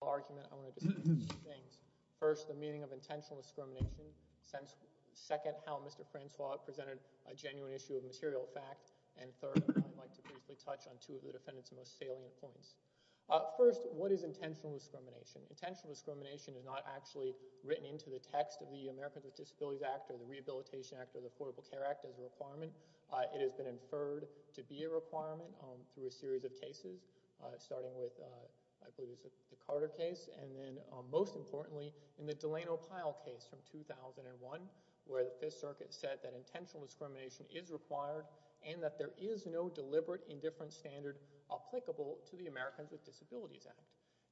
First, the meaning of intentional discrimination. Second, how Mr. Francois presented a genuine issue of material fact. And third, I'd like to briefly touch on two of the defendant's most salient points. First, what is intentional discrimination? Intentional discrimination is not actually written into the text of the Americans with Disabilities Act or the Rehabilitation Act or the Affordable Care Act as a requirement. It has been inferred to be a requirement through a series of cases, starting with I believe it was the Carter case and then most importantly in the Delano Pyle case from 2001, where the Fifth Circuit said that intentional discrimination is required and that there is no deliberate indifference standard applicable to the Americans with Disabilities Act.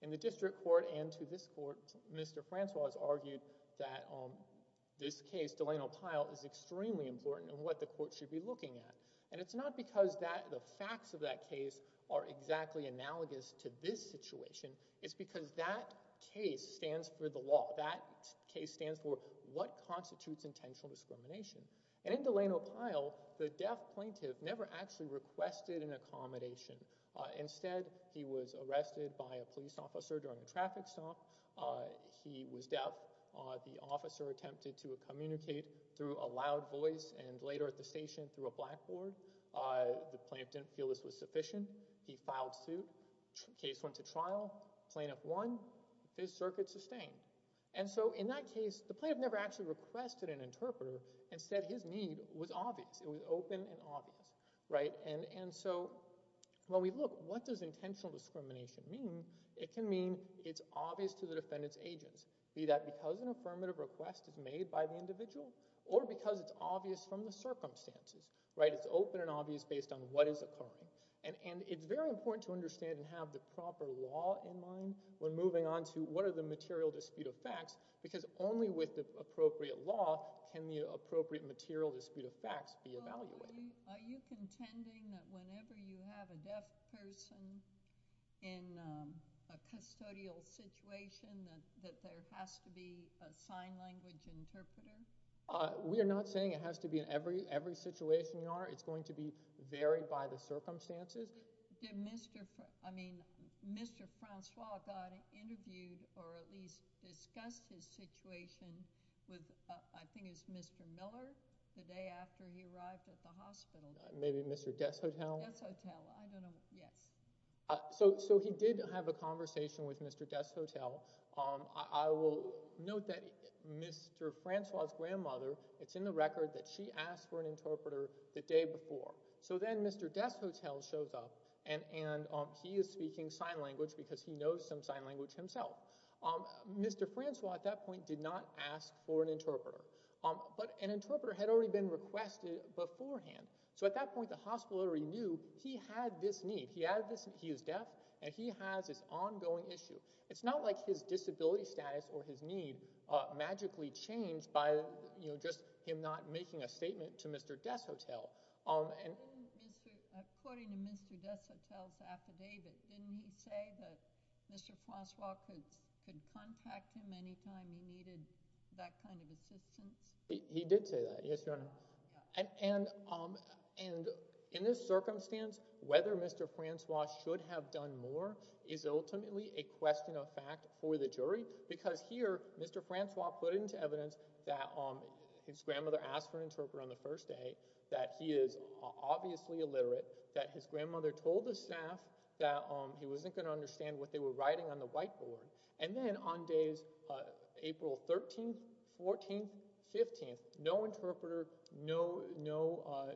In the district court and to this court, Mr. Francois argued that this case, Delano Pyle, is extremely important in what the court should be looking at. And it's not because the facts of that case are exactly analogous to this situation. It's because that case stands for the law. That case stands for what constitutes intentional discrimination. And in Delano Pyle, the deaf plaintiff never actually requested an accommodation. Instead, he was arrested by a police officer during a traffic stop. He was deaf. The officer attempted to communicate through a loud voice and later at the station through a blackboard. The plaintiff didn't feel this was sufficient. He filed suit. Case went to trial. Plaintiff won. Fifth Circuit sustained. And so in that case, the plaintiff never actually requested an interpreter. Instead, his need was obvious. It was open and obvious, right? And so when we look, what does intentional discrimination mean? It can mean it's obvious to the defendant's request is made by the individual, or because it's obvious from the circumstances, right? It's open and obvious based on what is occurring. And it's very important to understand and have the proper law in mind when moving on to what are the material dispute of facts, because only with the appropriate law can the appropriate material dispute of facts be evaluated. Well, are you contending that whenever you have a deaf person in a custodial situation that there has to be a sign language interpreter? We are not saying it has to be in every situation you are. It's going to be varied by the circumstances. Did Mr. Francois, I mean, Mr. Francois, got interviewed or at least discussed his situation with, I think it was Mr. Miller, the day after he arrived at the hospital? Maybe Mr. Deshotel? Deshotel. I don't know. Yes. So he did have a conversation with Mr. Deshotel. I will note that Mr. Francois' grandmother, it's in the record that she asked for an interpreter the day before. So then Mr. Deshotel shows up, and he is speaking sign language because he knows some sign language himself. Mr. Francois at that point did not ask for an interpreter. But an interpreter had already been requested beforehand. So at that point, the hospital already knew he had this need. He is deaf, and he has this ongoing issue. It's not like his disability status or his need magically changed by just him not making a statement to Mr. Deshotel. According to Mr. Deshotel's affidavit, didn't he say that Mr. Francois could contact him anytime he needed that kind of assistance? He did say that, yes, Your Honor. And in this circumstance, whether Mr. Francois should have done more is ultimately a question of fact for the jury. Because here, Mr. Francois put into evidence that his grandmother asked for an interpreter on the first day, that he is obviously illiterate, that his grandmother told the staff that he wasn't going to understand what they were writing on the whiteboard. And then on days April 13th, 14th, 15th, no interpreter, no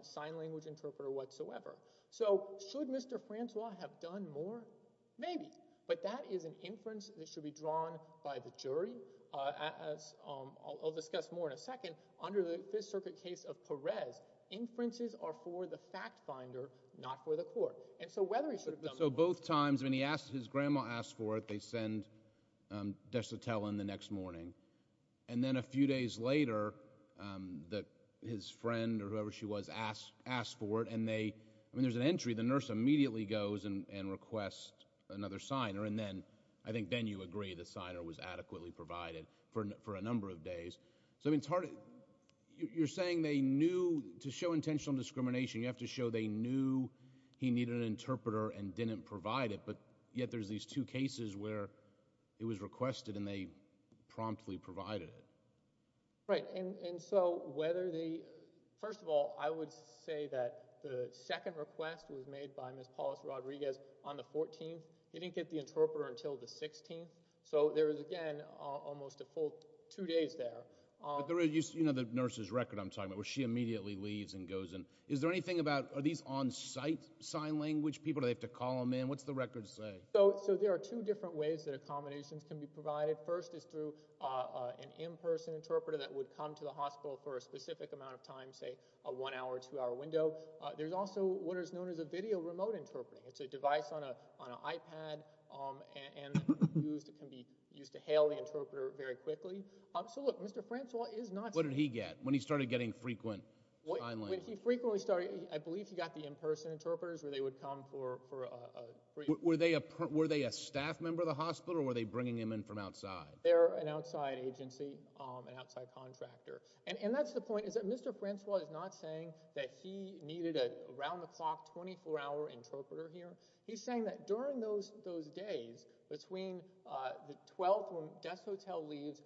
sign language interpreter whatsoever. So should Mr. Francois have done more? Maybe. But that is an inference that should be drawn by the jury, as I'll discuss more in a second. Under the Fifth Circuit case of Perez, inferences are for the fact finder, not for the court. And so whether he should have done more— So both times, I mean, he asked—his grandma asked for it, they send Desotelin the next morning. And then a few days later, his friend or whoever she was asked for it, and they—I mean, there's an entry, the nurse immediately goes and requests another signer, and then—I think then you agree the signer was adequately provided for a number of days. So it's hard—you're saying they knew—to show intentional discrimination, you have to show they knew he needed an interpreter and didn't provide it. But yet there's these two cases where it was requested and they promptly provided it. Right. And so whether the—first of all, I would say that the second request was made by Ms. Paulus Rodriguez on the 14th. They didn't get the interpreter until the 16th. So there is, again, almost a full two days there. But there is—you know the nurse's record I'm talking about, where she immediately leaves and goes and—is there anything about—are these on-site sign language people? Do they have to call them in? What's the record say? So there are two different ways that accommodations can be provided. First is through an in-person interpreter that would come to the hospital for a specific amount of time, say a one-hour, two-hour window. There's also what is known as a video remote interpreting. It's a device on an iPad, and it can be used to hail the interpreter very quickly. So look, Mr. Francois is not— What did he get when he started getting frequent sign language? When he frequently started—I believe he got the in-person interpreters where they would come for— Were they a staff member of the hospital, or were they bringing him in from outside? They're an outside agency, an outside contractor. And that's the point, is that Mr. Francois is not saying that he needed an around-the-clock, 24-hour interpreter here. He's saying that during those days, between the 12th, when the guest arrived, there was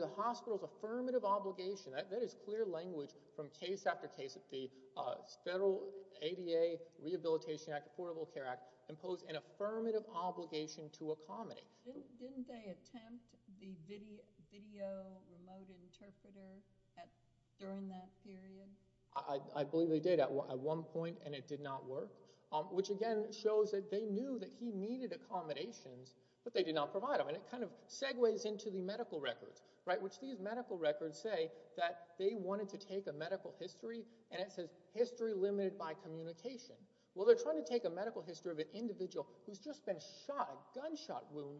an obligation. That is clear language from case after case. The Federal ADA Rehabilitation Act, Affordable Care Act, imposed an affirmative obligation to accommodate. Didn't they attempt the video remote interpreter during that period? I believe they did at one point, and it did not work, which again shows that they knew that he needed accommodations, but they did not provide them. And it kind of segues into the medical records, right, which these medical records say that they wanted to take a medical history, and it says history limited by communication. Well, they're trying to take a medical history of an individual who's just been shot, a gunshot wound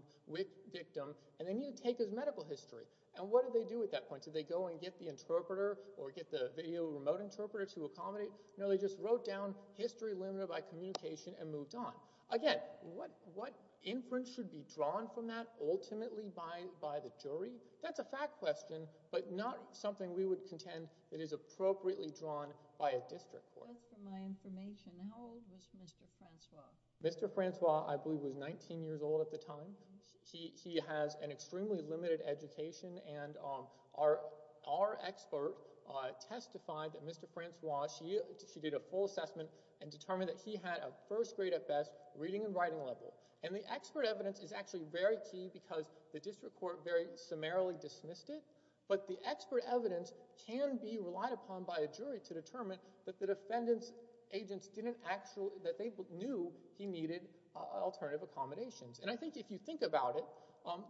victim, and they need to take his medical history. And what did they do at that point? Did they go and get the interpreter or get the video remote interpreter to accommodate? No, they just wrote down history limited by communication and moved on. Again, what inference should be drawn from that ultimately by the jury? That's a fact question, but not something we would contend that is appropriately drawn by a district court. Just for my information, how old was Mr. Francois? Mr. Francois, I believe, was 19 years old at the time. He has an extremely limited education, and our expert testified that Mr. Francois, she did a full assessment and determined that he had a first grade at best reading and writing level. And the expert evidence is actually very key because the district court very summarily dismissed it, but the expert evidence can be relied upon by a jury to determine that the defendant's agents didn't actually, that they knew he needed alternative accommodations. And I think if you think about it,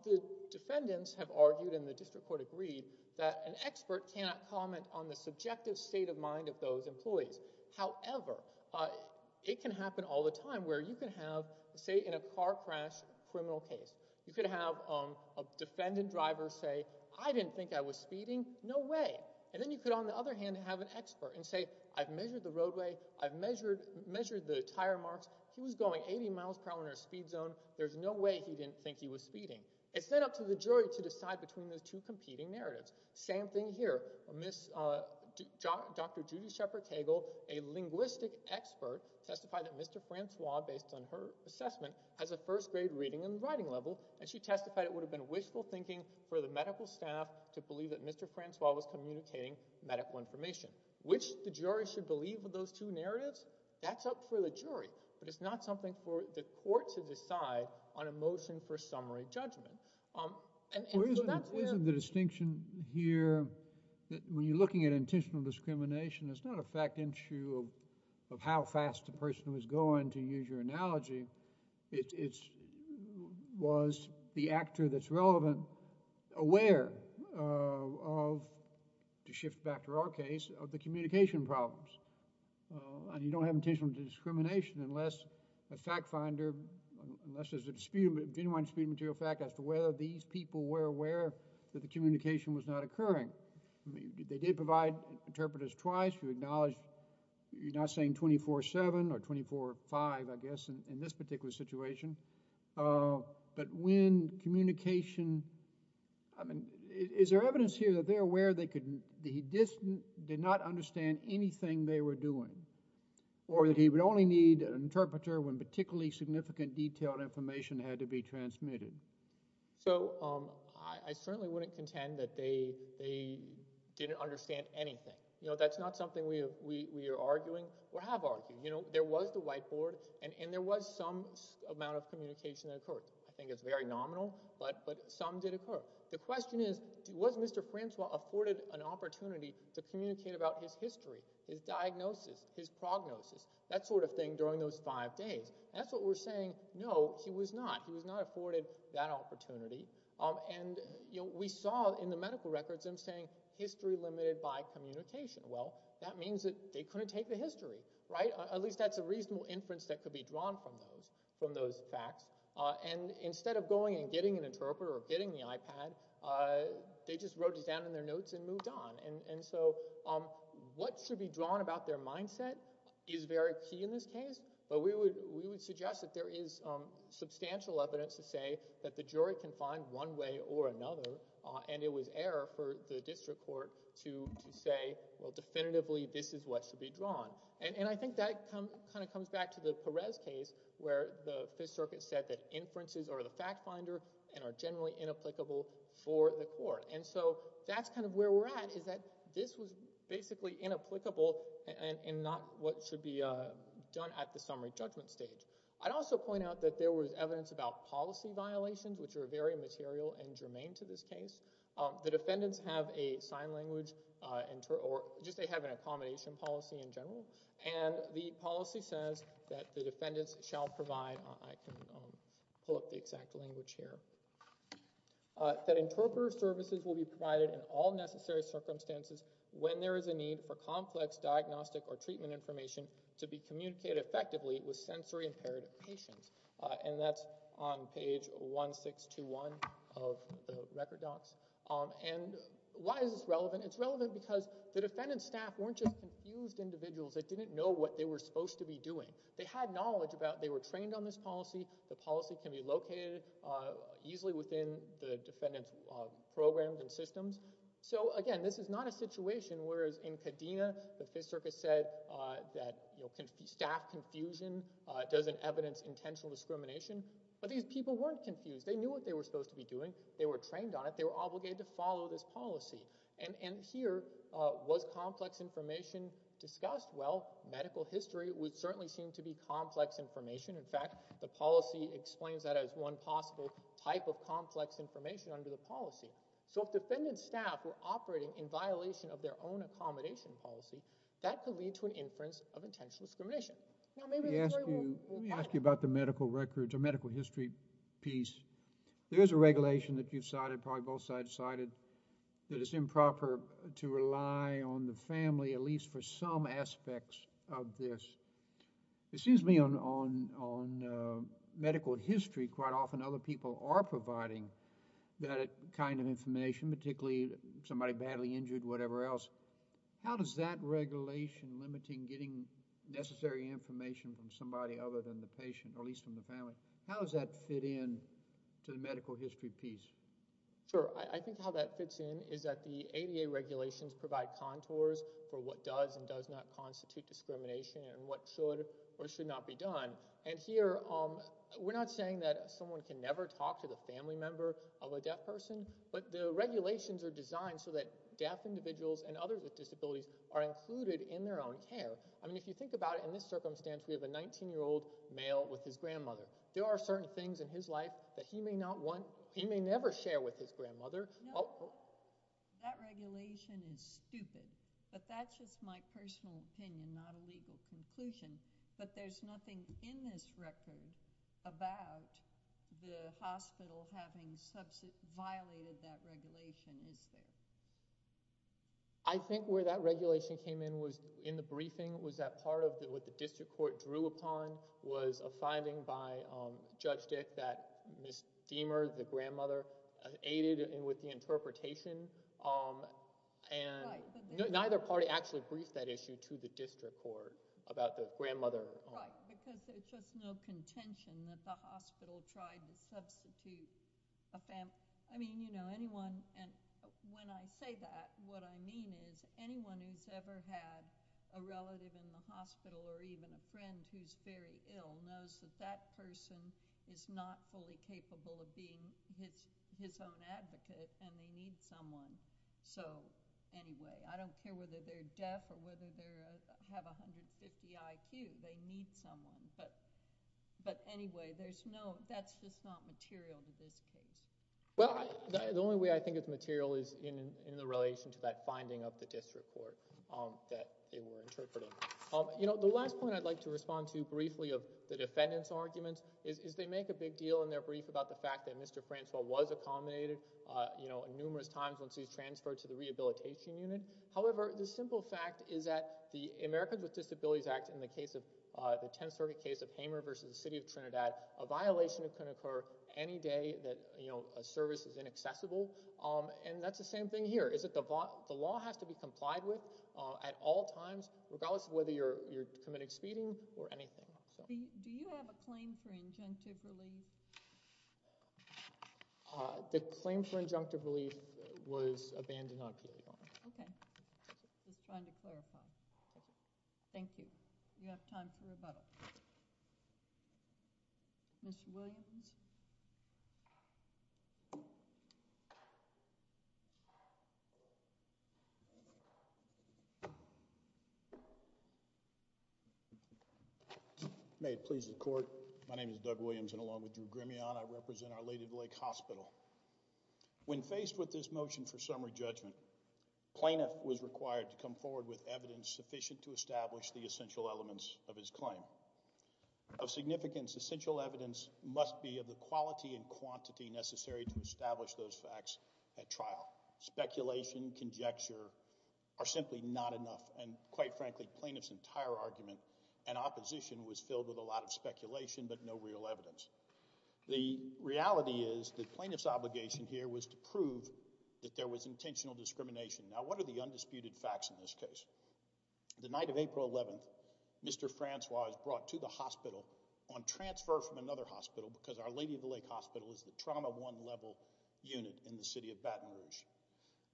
the defendants have argued and the district court agreed that an expert cannot comment on the subjective state of mind of those employees. However, it can happen all the time where you can have, say, in a car crash criminal case, you could have a defendant driver say, I didn't think I was speeding, no way. And then you could, on the other hand, have an expert and say, I've measured the roadway, I've measured the tire marks, he was going 80 miles per hour in a speed zone, there's no way he didn't think he was speeding. It's then up to the jury to decide between those two competing narratives. Same thing here. Dr. Judy Shepard Tegel, a linguistic expert, testified that Mr. Francois, based on her assessment, has a first grade reading and writing level, and she testified it would have been wishful thinking for the medical staff to believe that Mr. Francois was communicating medical information. Which the jury should believe with those two narratives, that's up for the jury, but it's not something for the court to decide on a motion for summary judgment. And so that's not a fact issue of how fast the person was going, to use your analogy. It was the actor that's relevant, aware of, to shift back to our case, of the communication problems. And you don't have intentional discrimination unless a fact finder, unless there's a genuine speed material fact as to whether these people were aware that the communication was not You're not saying 24-7 or 24-5, I guess, in this particular situation. But when communication, I mean, is there evidence here that they're aware that he did not understand anything they were doing? Or that he would only need an interpreter when particularly significant detailed information had to be transmitted? So I certainly wouldn't contend that they didn't understand anything. You know, that's not something we are arguing or have argued. You know, there was the whiteboard and there was some amount of communication that occurred. I think it's very nominal, but some did occur. The question is, was Mr. Francois afforded an opportunity to communicate about his history, his diagnosis, his prognosis, that sort of thing during those five days? That's what we're saying, no, he was not. He was not afforded that opportunity. And we saw in the medical records him saying, history limited by communication. Well, that means that they couldn't take the history, right? At least that's a reasonable inference that could be drawn from those facts. And instead of going and getting an interpreter or getting the iPad, they just wrote this down in their notes and moved on. And so what should be drawn about their mindset is very key in this case, but we would suggest that there is substantial evidence to say that the jury can find one way or another, and it was error for the district court to say, well, definitively, this is what should be drawn. And I think that kind of comes back to the Perez case where the Fifth Circuit said that inferences are the fact finder and are generally inapplicable for the court. And so that's kind of where we're at, is that this was basically inapplicable and not what should be done at the summary judgment stage. I'd also point out that there was evidence about policy violations, which are very material and germane to this case. The defendants have a sign language, or just they have an accommodation policy in general, and the policy says that the defendants shall provide, I can pull up the exact language here, that interpreter services will be provided in all necessary circumstances when there is a need for complex diagnostic or treatment information to be communicated effectively with sensory impaired patients. And that's on page 1621 of the record docs. And why is this relevant? It's relevant because the defendant's staff weren't just confused individuals that didn't know what they were supposed to be doing. They had knowledge about, they were trained on this policy, the policy can be located easily within the defendant's programs and systems. So again, this is not a situation where, as in Kadena, the Fifth Circus said that staff confusion doesn't evidence intentional discrimination. But these people weren't confused. They knew what they were supposed to be doing. They were trained on it. They were obligated to follow this policy. And here, was complex information discussed? Well, medical history would certainly seem to be complex information. In fact, the policy explains that as one possible type of complex information under the policy. So if defendant's staff were operating in violation of their own accommodation policy, that could lead to an inference of intentional discrimination. Now, maybe the jury will... Let me ask you about the medical records or medical history piece. There is a regulation that you've cited, probably both sides cited, that it's improper to rely on the family, at least for some aspects of this. It seems to me on medical history, quite often other people are providing that kind of information, particularly somebody badly injured, whatever else. How does that regulation limiting getting necessary information from somebody other than the patient, or at least from the family, how does that fit in to the medical history piece? Sure. I think how that fits in is that the ADA regulations provide contours for what does and does not constitute discrimination and what should or should not be done. And here, we're not saying that someone can never talk to the family member of a deaf person, but the regulations are designed so that deaf individuals and others with disabilities are included in their own care. I mean, if you think about it in this circumstance, we have a 19-year-old male with his grandmother. There are certain things in his life that he may not want, he may never share with his grandmother. No, that regulation is stupid, but that's just my personal opinion, not a legal conclusion. But there's nothing in this record about the hospital having violated that regulation, is there? I think where that regulation came in was in the briefing was that part of what the district court drew upon was a finding by Judge Dick that Ms. Deamer, the grandmother, aided with the interpretation, and neither party actually briefed that issue to the district court about the grandmother. Right, because there's just no contention that the hospital tried to substitute a family member. I mean, you know, anyone, and when I say that, what I mean is anyone who's ever had a relative in the hospital or even a friend who's very ill knows that that person is not fully capable of being his own advocate and they need someone. So, anyway, I don't care whether they're deaf or whether they have 150 IQ, they need someone, but anyway, that's just not material to this case. Well, the only way I think it's material is in the relation to that finding of the district court that they were interpreting. You know, the last point I'd like to respond to briefly of the defendant's arguments is they make a big deal in their brief about the fact that Mr. Francois was accommodated you know, numerous times once he was transferred to the rehabilitation unit. However, the simple fact is that the Americans with Disabilities Act in the case of the 10th Circuit case of Hamer versus the City of Trinidad, a violation that can occur any day that, you know, a service is inaccessible, and that's the same thing here, is that the law has to be complied with at all times, regardless of whether you're committing speeding or anything. Do you have a claim for injunctive relief? The claim for injunctive relief was abandoned on appeal. Okay. Just trying to clarify. Thank you. You have time for rebuttal. Mr. Williams? May it please the court. My name is Doug Williams, and along with Drew Grimione, I represent our Lady of the Lake Hospital. When faced with this motion for summary judgment, plaintiff was required to come forward with evidence sufficient to establish the essential elements of his claim. The evidence must be of the quality and quantity necessary to establish those facts at trial. Speculation, conjecture are simply not enough, and quite frankly, plaintiff's entire argument and opposition was filled with a lot of speculation but no real evidence. The reality is that plaintiff's obligation here was to prove that there was intentional discrimination. Now, what are the undisputed facts in this case? The night of April 11th, Mr. Francois was brought to the hospital on transfer from another hospital, because our Lady of the Lake Hospital is the trauma one level unit in the city of Baton Rouge.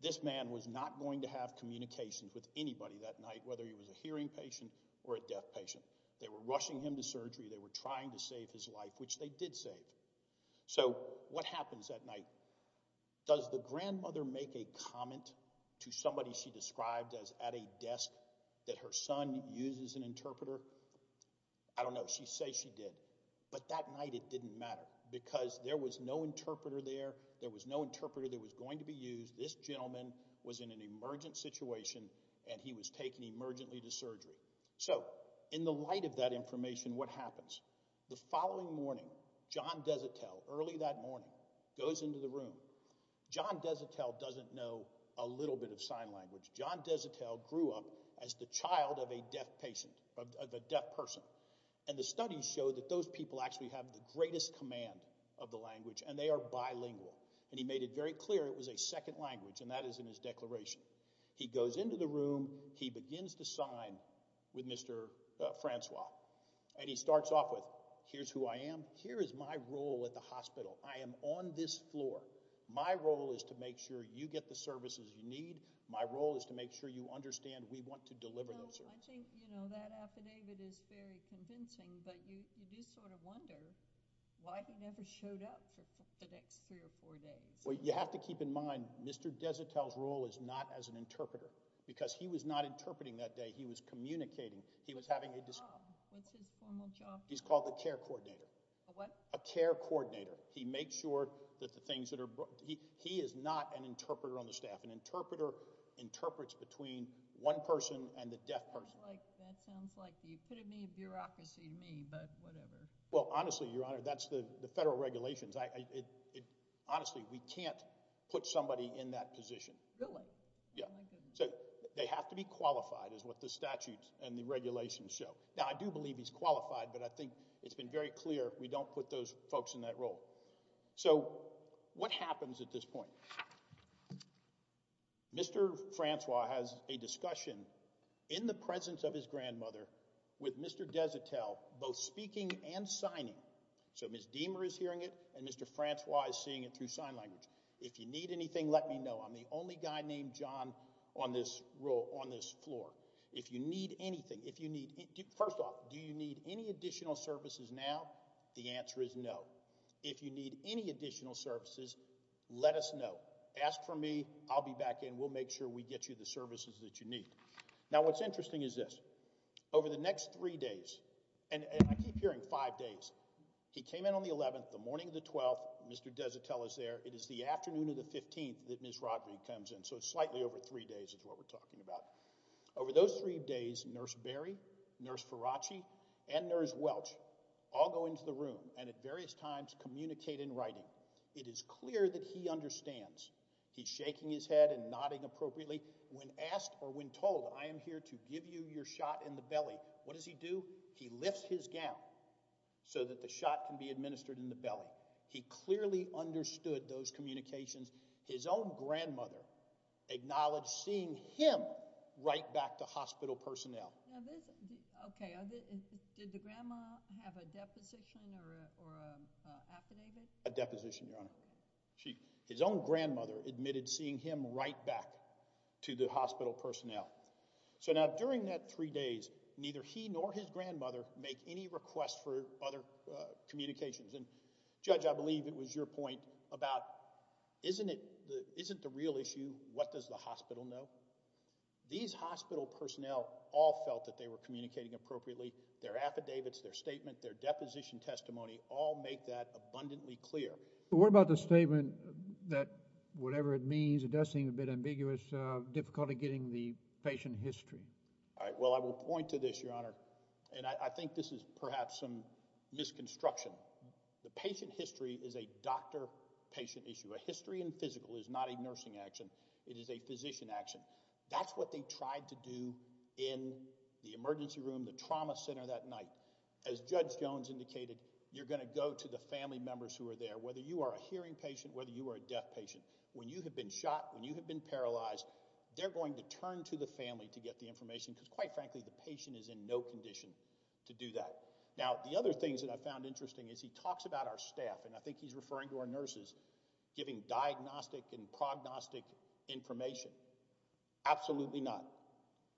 This man was not going to have communications with anybody that night, whether he was a hearing patient or a deaf patient. They were rushing him to surgery, they were trying to save his life, which they did save. So, what happens that night? Does the grandmother make a comment to somebody she described as at a desk that her son uses an interpreter? I don't know. She says she did. But that night it didn't matter, because there was no interpreter there, there was no interpreter that was going to be used, this gentleman was in an emergent situation, and he was taken emergently to surgery. So, in the light of that information, what happens? The following morning, John Desitel, early that morning, goes into the room. John Desitel doesn't know a little bit of sign language. John Desitel grew up as the greatest command of the language, and they are bilingual. And he made it very clear it was a second language, and that is in his declaration. He goes into the room, he begins to sign with Mr. Francois. And he starts off with, here's who I am, here is my role at the hospital, I am on this floor. My role is to make sure you get the services you need, my role is to make sure you understand we want to deliver those services. Well, I think, you know, that affidavit is very convincing, but you do sort of wonder why he never showed up for the next three or four days. Well, you have to keep in mind, Mr. Desitel's role is not as an interpreter, because he was not interpreting that day, he was communicating, he was having a discussion. What's his formal job? He's called the care coordinator. A what? A care coordinator. He makes sure that the things that are, he is not an interpreter on the staff. An interpreter interprets between one person and the deaf person. That sounds like, you could have made bureaucracy to me, but whatever. Well, honestly, Your Honor, that's the federal regulations. Honestly, we can't put somebody in that position. Really? Yeah. Oh, my goodness. They have to be qualified, is what the statutes and the regulations show. Now, I do believe he's qualified, but I think it's been very clear we don't put those folks in that role. So, what happens at this point? Mr. Francois has a discussion, in the presence of his grandmother, with Mr. Desitel, both speaking and signing. So, Ms. Deamer is hearing it, and Mr. Francois is seeing it through sign language. If you need anything, let me know. I'm the only guy named John on this floor. If you need anything, if you need, first off, do you need any additional services now? The answer is no. If you need any additional services, let us know. Ask for me, I'll be back in. We'll make sure we get you the services that you need. Now, what's interesting is this. Over the next three days, and I keep hearing five days, he came in on the 11th, the morning of the 12th, Mr. Desitel is there, it is the afternoon of the 15th that Ms. Rodrigue comes in, so it's slightly over three days is what we're talking about. Over those three days, Nurse Berry, Nurse Faraci, and Nurse Welch all go into the room and at various times communicate in writing. It is clear that he understands. He's shaking his head and nodding appropriately. When asked or when told, I am here to give you your shot in the belly, what does he do? He lifts his gown so that the shot can be administered in the belly. He clearly understood those communications. His own grandmother acknowledged seeing him write back to hospital personnel. Did the grandma have a deposition or an affidavit? A deposition, Your Honor. His own grandmother admitted seeing him write back to the hospital personnel. Now, during that three days, neither he nor his grandmother make any request for other communications. Judge, I believe it was your point about isn't the real issue what does the hospital know? These hospital personnel all felt that they were communicating appropriately. Their affidavits, their statement, their deposition testimony all make that abundantly clear. What about the statement that whatever it means, it does seem a bit ambiguous, difficult at getting the patient history? Well, I will point to this, Your Honor, and I think this is perhaps some misconstruction. The patient history is a doctor-patient issue. A history in physical is not a nursing action. It is a physician action. That's what they tried to do in the emergency room, the trauma center that night. As Judge Jones indicated, you're going to go to the family members who are there, whether you are a hearing patient, whether you are a deaf patient. When you have been shot, when you have been paralyzed, they're going to turn to the family to get the information because, quite frankly, the patient is in no condition to do that. Now, the other things that I found interesting is he talks about our staff, and I think he's referring to our nurses, giving diagnostic and prognostic information. Absolutely not.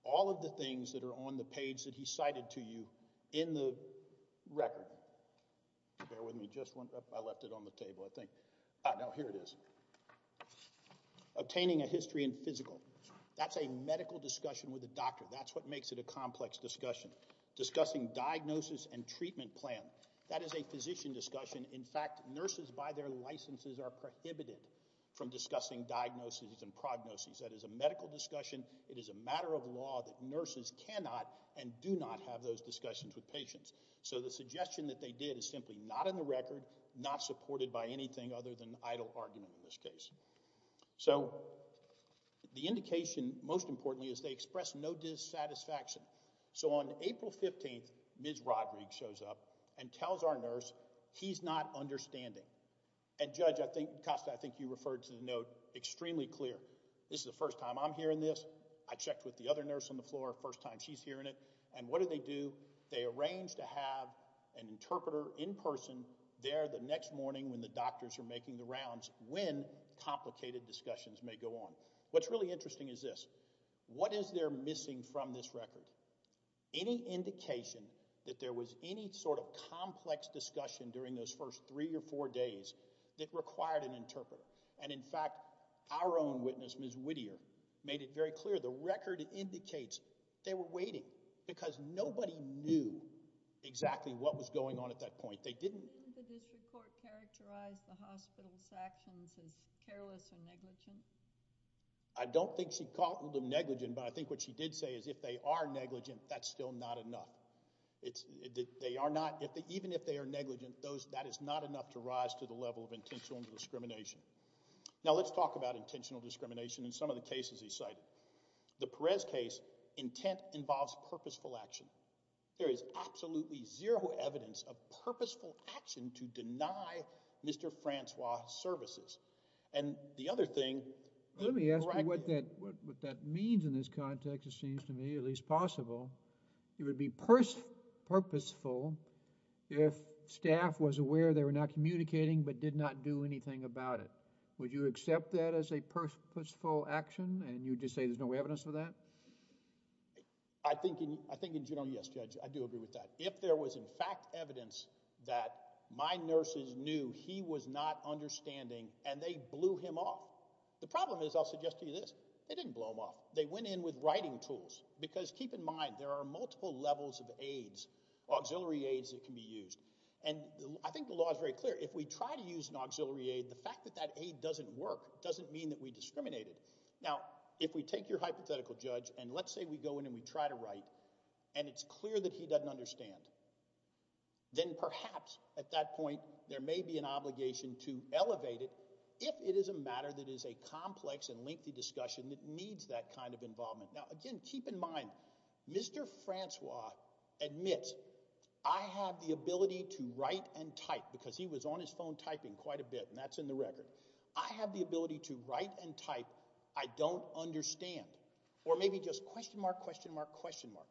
All of the things that are on the page that he cited to you in the record, bear with me just one, I left it on the table, I think. Ah, no, here it is. Obtaining a history in physical. That's a medical discussion with a doctor. That's what makes it a complex discussion. Discussing diagnosis and treatment plan. That is a physician discussion. In fact, nurses by their licenses are prohibited from discussing diagnosis and prognosis. That is a medical discussion. It is a matter of law that nurses cannot and do not have those discussions with patients. So the suggestion that they did is simply not in the record, not supported by anything other than idle argument in this case. So, the indication, most importantly, is they express no dissatisfaction. So on April 15th, Ms. Rodrigue shows up and tells our nurse, he's not understanding. And Judge, I think, Costa, I think you referred to the note extremely clear. This is the first time I'm hearing this. I checked with the other nurse on the floor, first time she's hearing it. And what do they do? They arrange to have an interpreter in person there the next morning when the complicated discussions may go on. What's really interesting is this. What is there missing from this record? Any indication that there was any sort of complex discussion during those first three or four days that required an interpreter? And in fact, our own witness, Ms. Whittier, made it very clear. The record indicates they were waiting because nobody knew exactly what was going on at that point. They didn't... Does she recognize the hospital's actions as careless or negligent? I don't think she called them negligent, but I think what she did say is if they are negligent, that's still not enough. Even if they are negligent, that is not enough to rise to the level of intentional discrimination. Now let's talk about intentional discrimination in some of the cases he cited. The Perez case, intent involves purposeful action. There is no evidence of that. I think in general, yes, Judge, I do agree with that. If there was in fact evidence that my nurses knew he was not understanding and they blew him off, the problem is, I'll suggest to you this, they didn't blow him off. They went in with writing tools. Because keep in mind, there are multiple levels of aids, auxiliary aids that can be used. And I think the law is very clear. If we try to use an auxiliary aid, the fact that that aid doesn't work doesn't mean that we discriminate it. Now, if we take your hypothetical judge and let's say we go in and we try to write and it's clear that he doesn't understand, then perhaps at that point there may be an obligation to elevate it if it is a matter that is a complex and lengthy discussion that needs that kind of involvement. Now again, keep in mind, Mr. Francois admits, I have the ability to write and type, because he was on his phone typing quite a bit and that's in the record. I have the ability to write and type, I don't understand. Or maybe just question mark, question mark, question mark.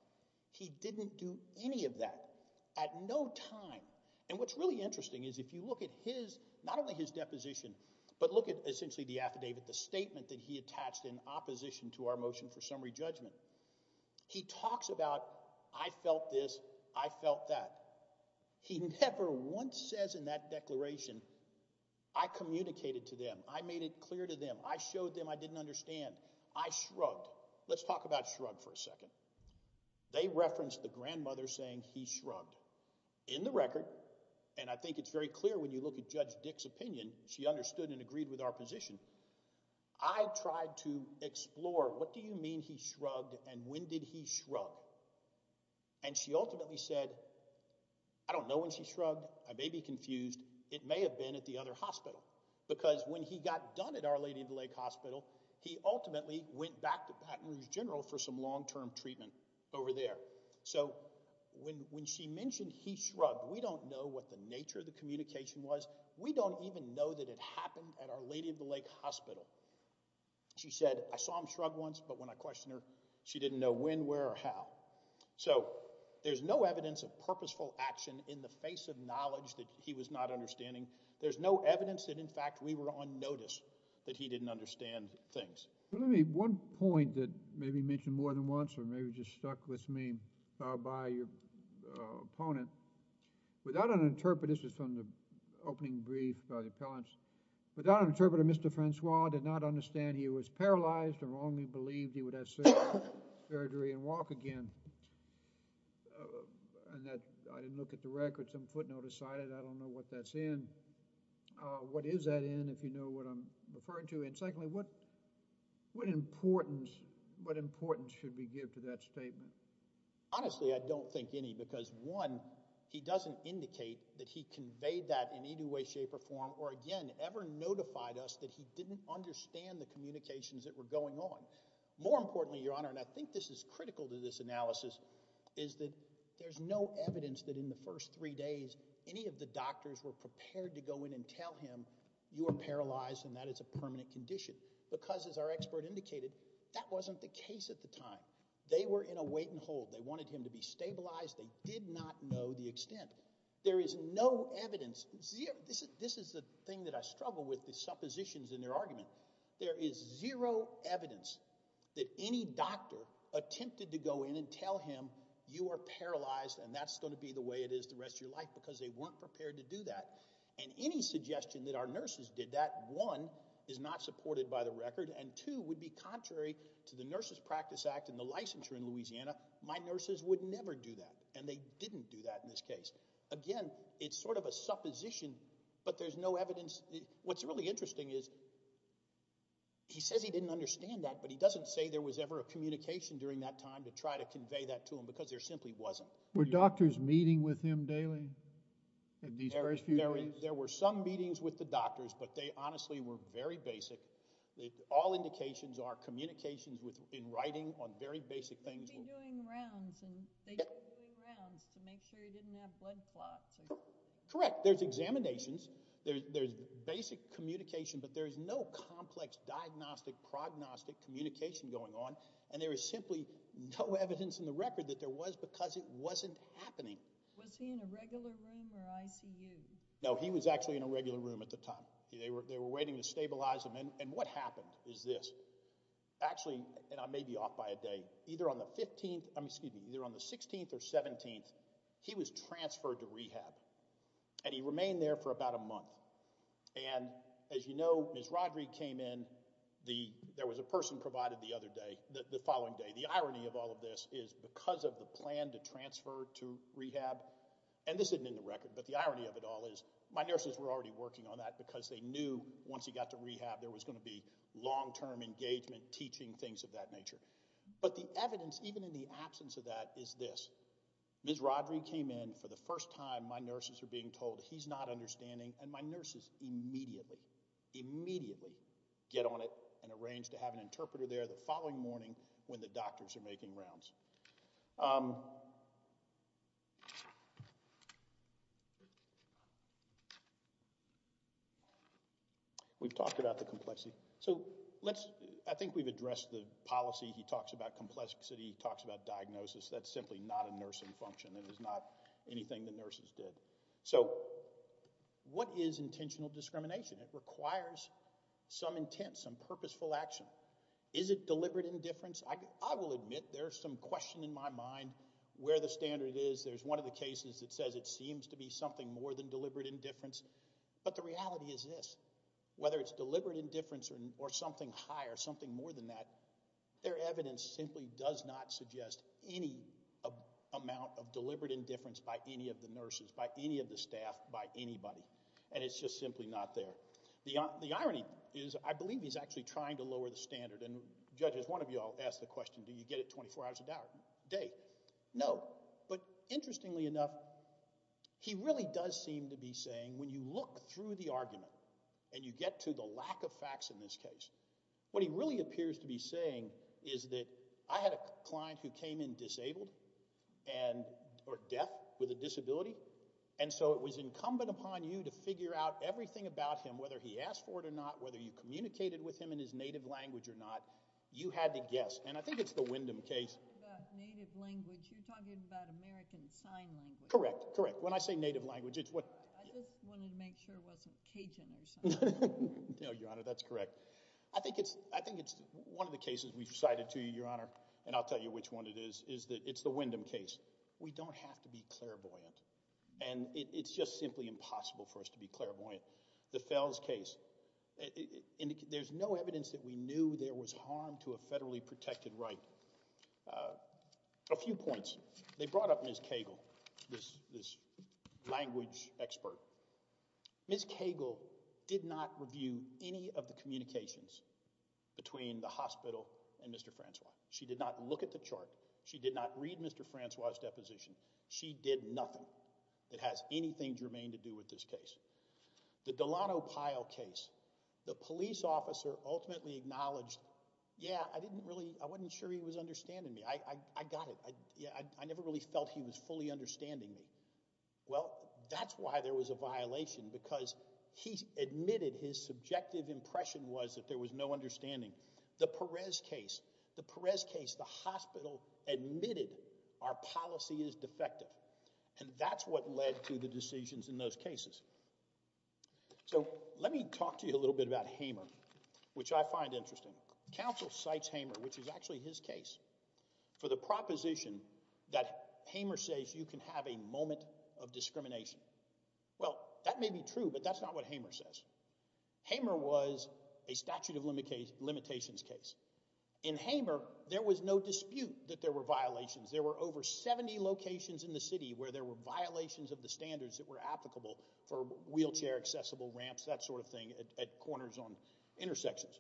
He didn't do any of that. At no time. And what's really interesting is if you look at his, not only his deposition, but look at essentially the affidavit, the statement that he attached in opposition to our motion for summary judgment. He talks about, I felt this, I felt that. He never once says in that declaration, I communicated to them, I made it clear to them, I showed them I didn't understand, I shrugged. Let's talk about shrug for a second. They referenced the grandmother saying he shrugged. In the record, and I think it's very clear when you look at Judge Dick's opinion, she understood and agreed with our position, I tried to explore what do you mean he shrugged and when did he shrug? And she ultimately said, I don't know when she shrugged, I may be confused, it may have been at the other Lady of the Lake Hospital, he ultimately went back to Baton Rouge General for some long-term treatment over there. So when she mentioned he shrugged, we don't know what the nature of the communication was, we don't even know that it happened at our Lady of the Lake Hospital. She said, I saw him shrug once, but when I questioned her, she didn't know when, where or how. So there's no evidence of purposeful action in the face of knowledge that he was not understanding. There's no evidence that in fact we were on notice that he didn't understand things. Let me, one point that maybe you mentioned more than once or maybe just stuck with me by your opponent, without an interpreter, this is from the opening brief by the appellants, without an interpreter, Mr. Francois did not understand he was paralyzed or wrongly believed he would have surgery and walk again. And that, I didn't look at the record, some footnote aside, I don't know what that's in. What is that in, if you know what I'm referring to? And secondly, what, what importance, what importance should we give to that statement? Honestly, I don't think any, because one, he doesn't indicate that he conveyed that in any way, shape or form, or again, ever notified us that he didn't understand the communications that were going on. More importantly, Your Honor, and I think this is critical to this analysis, is that there's no evidence that in the first three days, any of the doctors were prepared to go in and tell him you are paralyzed and that is a permanent condition. Because as our expert indicated, that wasn't the case at the time. They were in a wait and hold. They wanted him to be stabilized. They did not know the extent. There is no evidence, this is the thing that I struggle with, the suppositions in their argument. There is zero evidence that any doctor attempted to go in and tell him you are paralyzed and that's going to be the way it is the rest of your life because they weren't prepared to do that. And any suggestion that our nurses did that, one, is not supported by the record and two, would be contrary to the Nurses Practice Act and the licensure in Louisiana. My nurses would never do that and they didn't do that in this case. Again, it's sort of a supposition, but there's no evidence. What's really interesting is, he says he didn't understand that, but he doesn't say there was ever a communication during that time to try to convey that to him because there simply wasn't. Were doctors meeting with him daily in these first few days? There were some meetings with the doctors, but they honestly were very basic. All indications are communications in writing on very basic things. They'd be doing rounds and they'd Correct, there's examinations, there's basic communication, but there's no complex diagnostic prognostic communication going on and there is simply no evidence in the record that there was because it wasn't happening. Was he in a regular room or ICU? No, he was actually in a regular room at the time. They were waiting to stabilize him and what happened is this. Actually, and I may be off by a day, either on the 15th, excuse me, either on the 16th or 17th, he was transferred to rehab and he remained there for about a month. As you know, Ms. Rodrigue came in, there was a person provided the other day, the following day. The irony of all of this is because of the plan to transfer to rehab, and this isn't in the record, but the irony of it all is my nurses were already working on that because they knew once he got to rehab there was going to be long-term engagement, teaching, things of that nature. But the evidence, even in the absence of that, is this. Ms. Rodrigue came in for the first time, my nurses are being told he's not understanding, and my nurses immediately, immediately get on it and arrange to have an interpreter there the following morning when the doctors are making rounds. We've talked about the complexity. So let's, I think we've addressed the policy, he talks about complexity, he talks about diagnosis, that's simply not a nursing function. It is not anything the nurses did. So what is intentional discrimination? It requires some intent, some purposeful action. Is it deliberate indifference? I will admit there's some question in my mind where the standard is. There's one of the cases that says it seems to be something more than deliberate indifference, but the reality is this. Whether it's deliberate indifference or something higher, something more than that, their evidence simply does not suggest any amount of deliberate indifference by any of the nurses, by any of the staff, by anybody, and it's just simply not there. The irony is, I believe he's actually trying to lower the standard, and judges, one of you all asked the question, do you get it 24 hours a day? No. But interestingly enough, he really does seem to be saying when you look through the argument, and you get to the lack of facts in this case, what he really appears to be saying is that I had a client who came in disabled, or deaf with a disability, and so it was incumbent upon you to figure out everything about him, whether he asked for it or not, whether you communicated with him in his native language or not. You had to guess, and I think it's the Wyndham case. Native language, you're talking about American sign language. Correct, correct. When I say native language, it's what... I just wanted to make sure it wasn't Cajun or something. No, Your Honor, that's correct. I think it's one of the cases we've recited to you, Your Honor, and I'll tell you which one it is, is that it's the Wyndham case. We don't have to be clairvoyant, and it's just simply impossible for us to be clairvoyant. The Fells case, there's no evidence that we knew there was harm to a federally protected right. A few points. They brought up Ms. Cagle, this language expert. Ms. Cagle did not review any of the communications between the hospital and Mr. Francois. She did not read Mr. Francois's deposition. She did nothing that has anything germane to do with this case. The Delano Pyle case, the police officer ultimately acknowledged, yeah, I didn't really... I wasn't sure he was understanding me. I got it. I never really felt he was fully understanding me. Well, that's why there was a violation, because he admitted his subjective impression was that there was no understanding. The Perez case, the hospital admitted our policy is defective, and that's what led to the decisions in those cases. So let me talk to you a little bit about Hamer, which I find interesting. Counsel cites Hamer, which is actually his case, for the proposition that Hamer says you can have a moment of discrimination. Well, that may be true, but that's not what Hamer says. Hamer was a statute of limitations case. In Hamer, there was no dispute that there were violations. There were over 70 locations in the city where there were violations of the standards that were applicable for wheelchair accessible ramps, that sort of thing, at corners on intersections.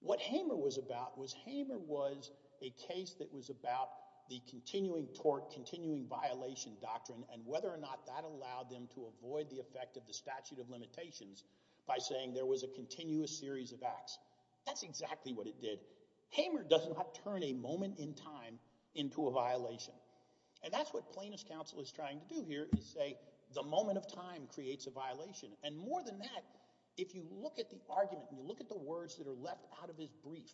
What Hamer was about was Hamer was a case that was about the continuing tort, continuing violation doctrine, and whether or not that allowed them to avoid the effect of the statute of limitations by saying there was a continuous series of acts. That's exactly what it did. Hamer does not turn a moment in time into a violation, and that's what plaintiff's counsel is trying to do here is say the moment of time creates a violation, and more than that, if you look at the argument and you look at the words that are left out of his brief,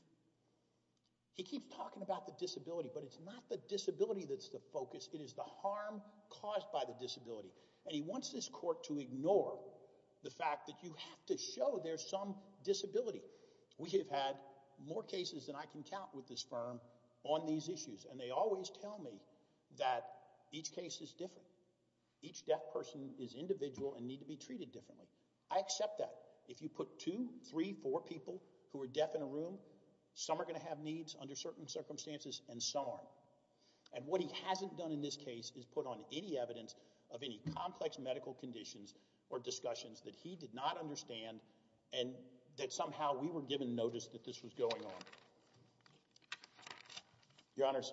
he keeps talking about the disability, but it's not the disability that's the focus. It is the harm caused by the disability, and he wants this court to ignore the fact that you have to show there's some disability. We have had more cases than I can count with this firm on these issues, and they always tell me that each case is different. Each deaf person is individual and need to be treated differently. I accept that. If you put two, three, four people who are deaf in a room, some are going to have needs under certain circumstances and some aren't, and what he is saying is that there's been complex medical conditions or discussions that he did not understand and that somehow we were given notice that this was going on. Your Honors,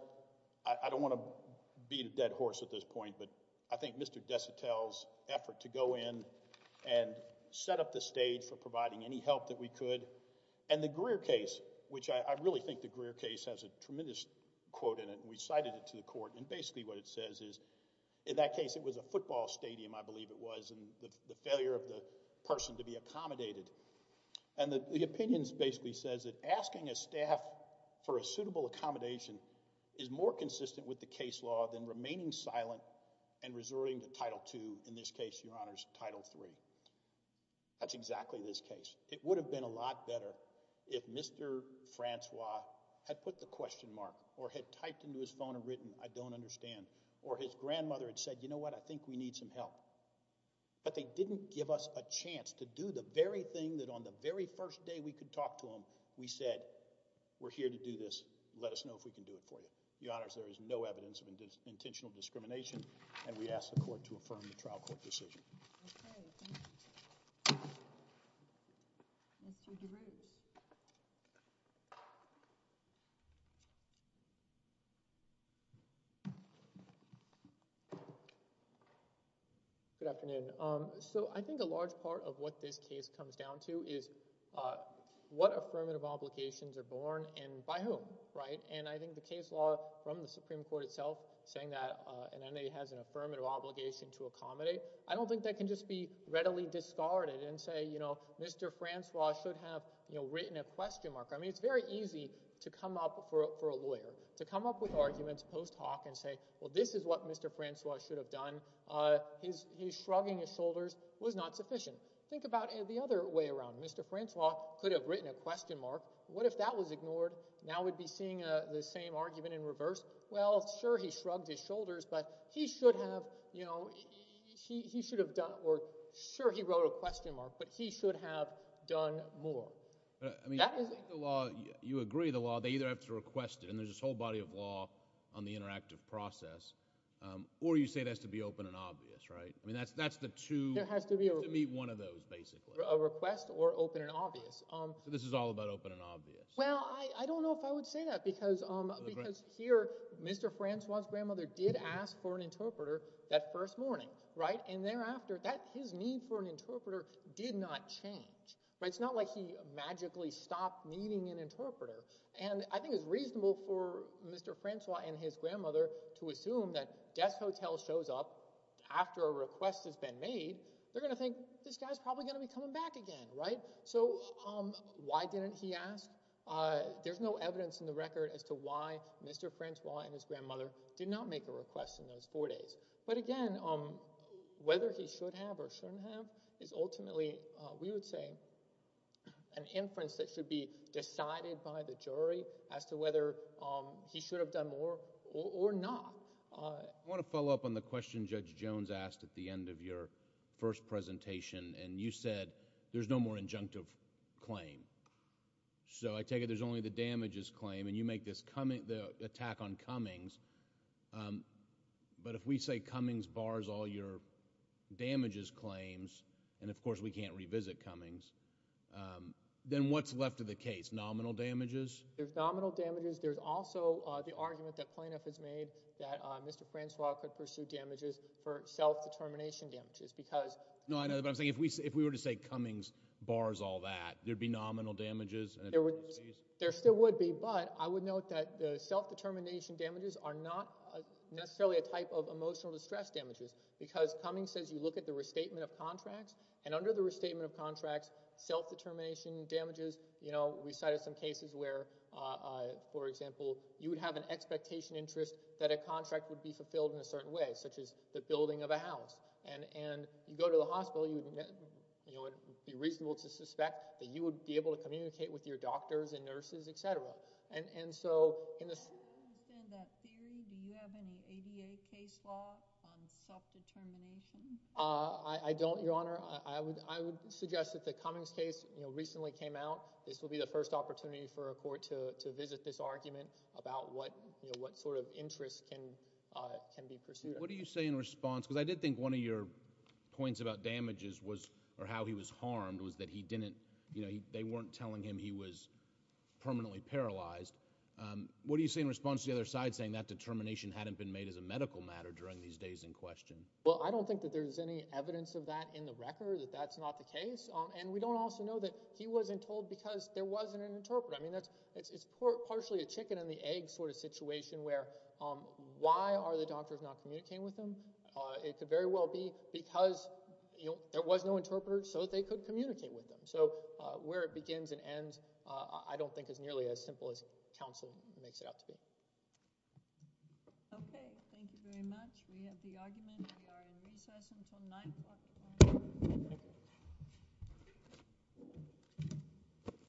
I don't want to beat a dead horse at this point, but I think Mr. Desitel's effort to go in and set up the stage for providing any help that we could, and the Greer case, which I really think the Greer case has a tremendous quote in it, and we cited it to the court, and basically what it says is, in that case it was a football stadium, I believe it was, and the failure of the person to be accommodated, and the opinions basically says that asking a staff for a suitable accommodation is more consistent with the case law than remaining silent and resorting to Title II, in this case, Your Honors, Title III. That's exactly this case. It would have been a lot better if Mr. Francois had put the question I don't understand, or his grandmother had said, you know what, I think we need some help, but they didn't give us a chance to do the very thing that on the very first day we could talk to him, we said, we're here to do this, let us know if we can do it for you. Your Honors, there is no evidence of intentional discrimination, and we ask the court to affirm the trial court decision. Okay, thank you. Mr. DeRose. Good afternoon. So I think a large part of what this case comes down to is what affirmative obligations are born and by whom, right? And I think the case law from the Supreme Court itself saying that an N.A. has an affirmative obligation to accommodate, I don't think that can just be readily discarded and say, you know, Mr. Francois should have, you know, written a question mark. I mean, it's very easy to come up for a lawyer, to come up with arguments post hoc and say, well, this is what Mr. Francois should have done. His shrugging his shoulders was not sufficient. Think about the other way around. Mr. Francois could have written a question mark. What if that was ignored? Now we'd be seeing the same argument in reverse. Well, sure, he shrugged his shoulders, but he should have, you know, he should have done, or sure, he wrote a question mark, but he should have done more. I mean, I think the law, you agree the law, they either have to request it, and there's this whole body of law on the interactive process, or you say it has to be open and obvious, right? I mean, that's the two, you have to meet one of those, basically. A request or open and obvious. So this is all about open and obvious. Well, I don't know if I would say that, because here, Mr. Francois' grandmother did ask for an interpreter that first morning, right? And thereafter, his need for an interpreter did not change, right? It's not like he magically stopped needing an interpreter. And I think it's reasonable for Mr. Francois and his grandmother to assume that death hotel shows up after a request has been made, they're going to think, this guy's probably going to be coming back again, right? So why didn't he ask? There's no evidence in the record as to why Mr. Francois and his grandmother did not make a request in those four days. But again, whether he should have or shouldn't have is ultimately, we would say, an inference that should be decided by the jury as to whether he should have done more or not. I want to follow up on the question Judge Jones asked at the end of your first presentation. And you said, there's no more injunctive claim. So I take it there's only the damages claim, and you make this attack on Cummings. But if we say Cummings bars all your damages claims, and of course we can't revisit Cummings, then what's left of the case? Nominal damages? There's nominal damages. There's also the argument that plaintiff has made that Mr. Francois could pursue damages for self-determination damages. No, I know, but I'm saying if we were to say Cummings bars all that, there'd be nominal damages? There still would be, but I would note that the self-determination damages are not necessarily a type of emotional distress damages, because Cummings says you look at the restatement of contracts, and under the restatement of contracts, self-determination damages, you know, we cited some cases where, for example, you would have an expectation interest that a contract would be fulfilled in a certain way, such as the building of a house. And you go to the hospital, it would be reasonable to suspect that you would be able to communicate with your doctors and nurses, etc. Do you understand that theory? Do you have any ADA case law on self-determination? I don't, Your Honor. I would suggest that the Cummings case recently came out. This will be the first opportunity for a court to visit this argument about what sort of interest can be pursued. What do you say in response? Because I did think one of your points about damages was – or how he was harmed was that he didn't – they weren't telling him he was permanently paralyzed. What do you say in response to the other side saying that determination hadn't been made as a medical matter during these days in question? Well, I don't think that there's any evidence of that in the record, that that's not the case. And we don't also know that he wasn't told because there wasn't an interpreter. I mean it's partially a chicken and the egg sort of situation where why are the doctors not communicating with him? It could very well be because there was no interpreter so that they could communicate with him. So where it begins and ends I don't think is nearly as simple as counsel makes it out to be. Okay. Thank you very much. We have the argument. We are in recess until 9.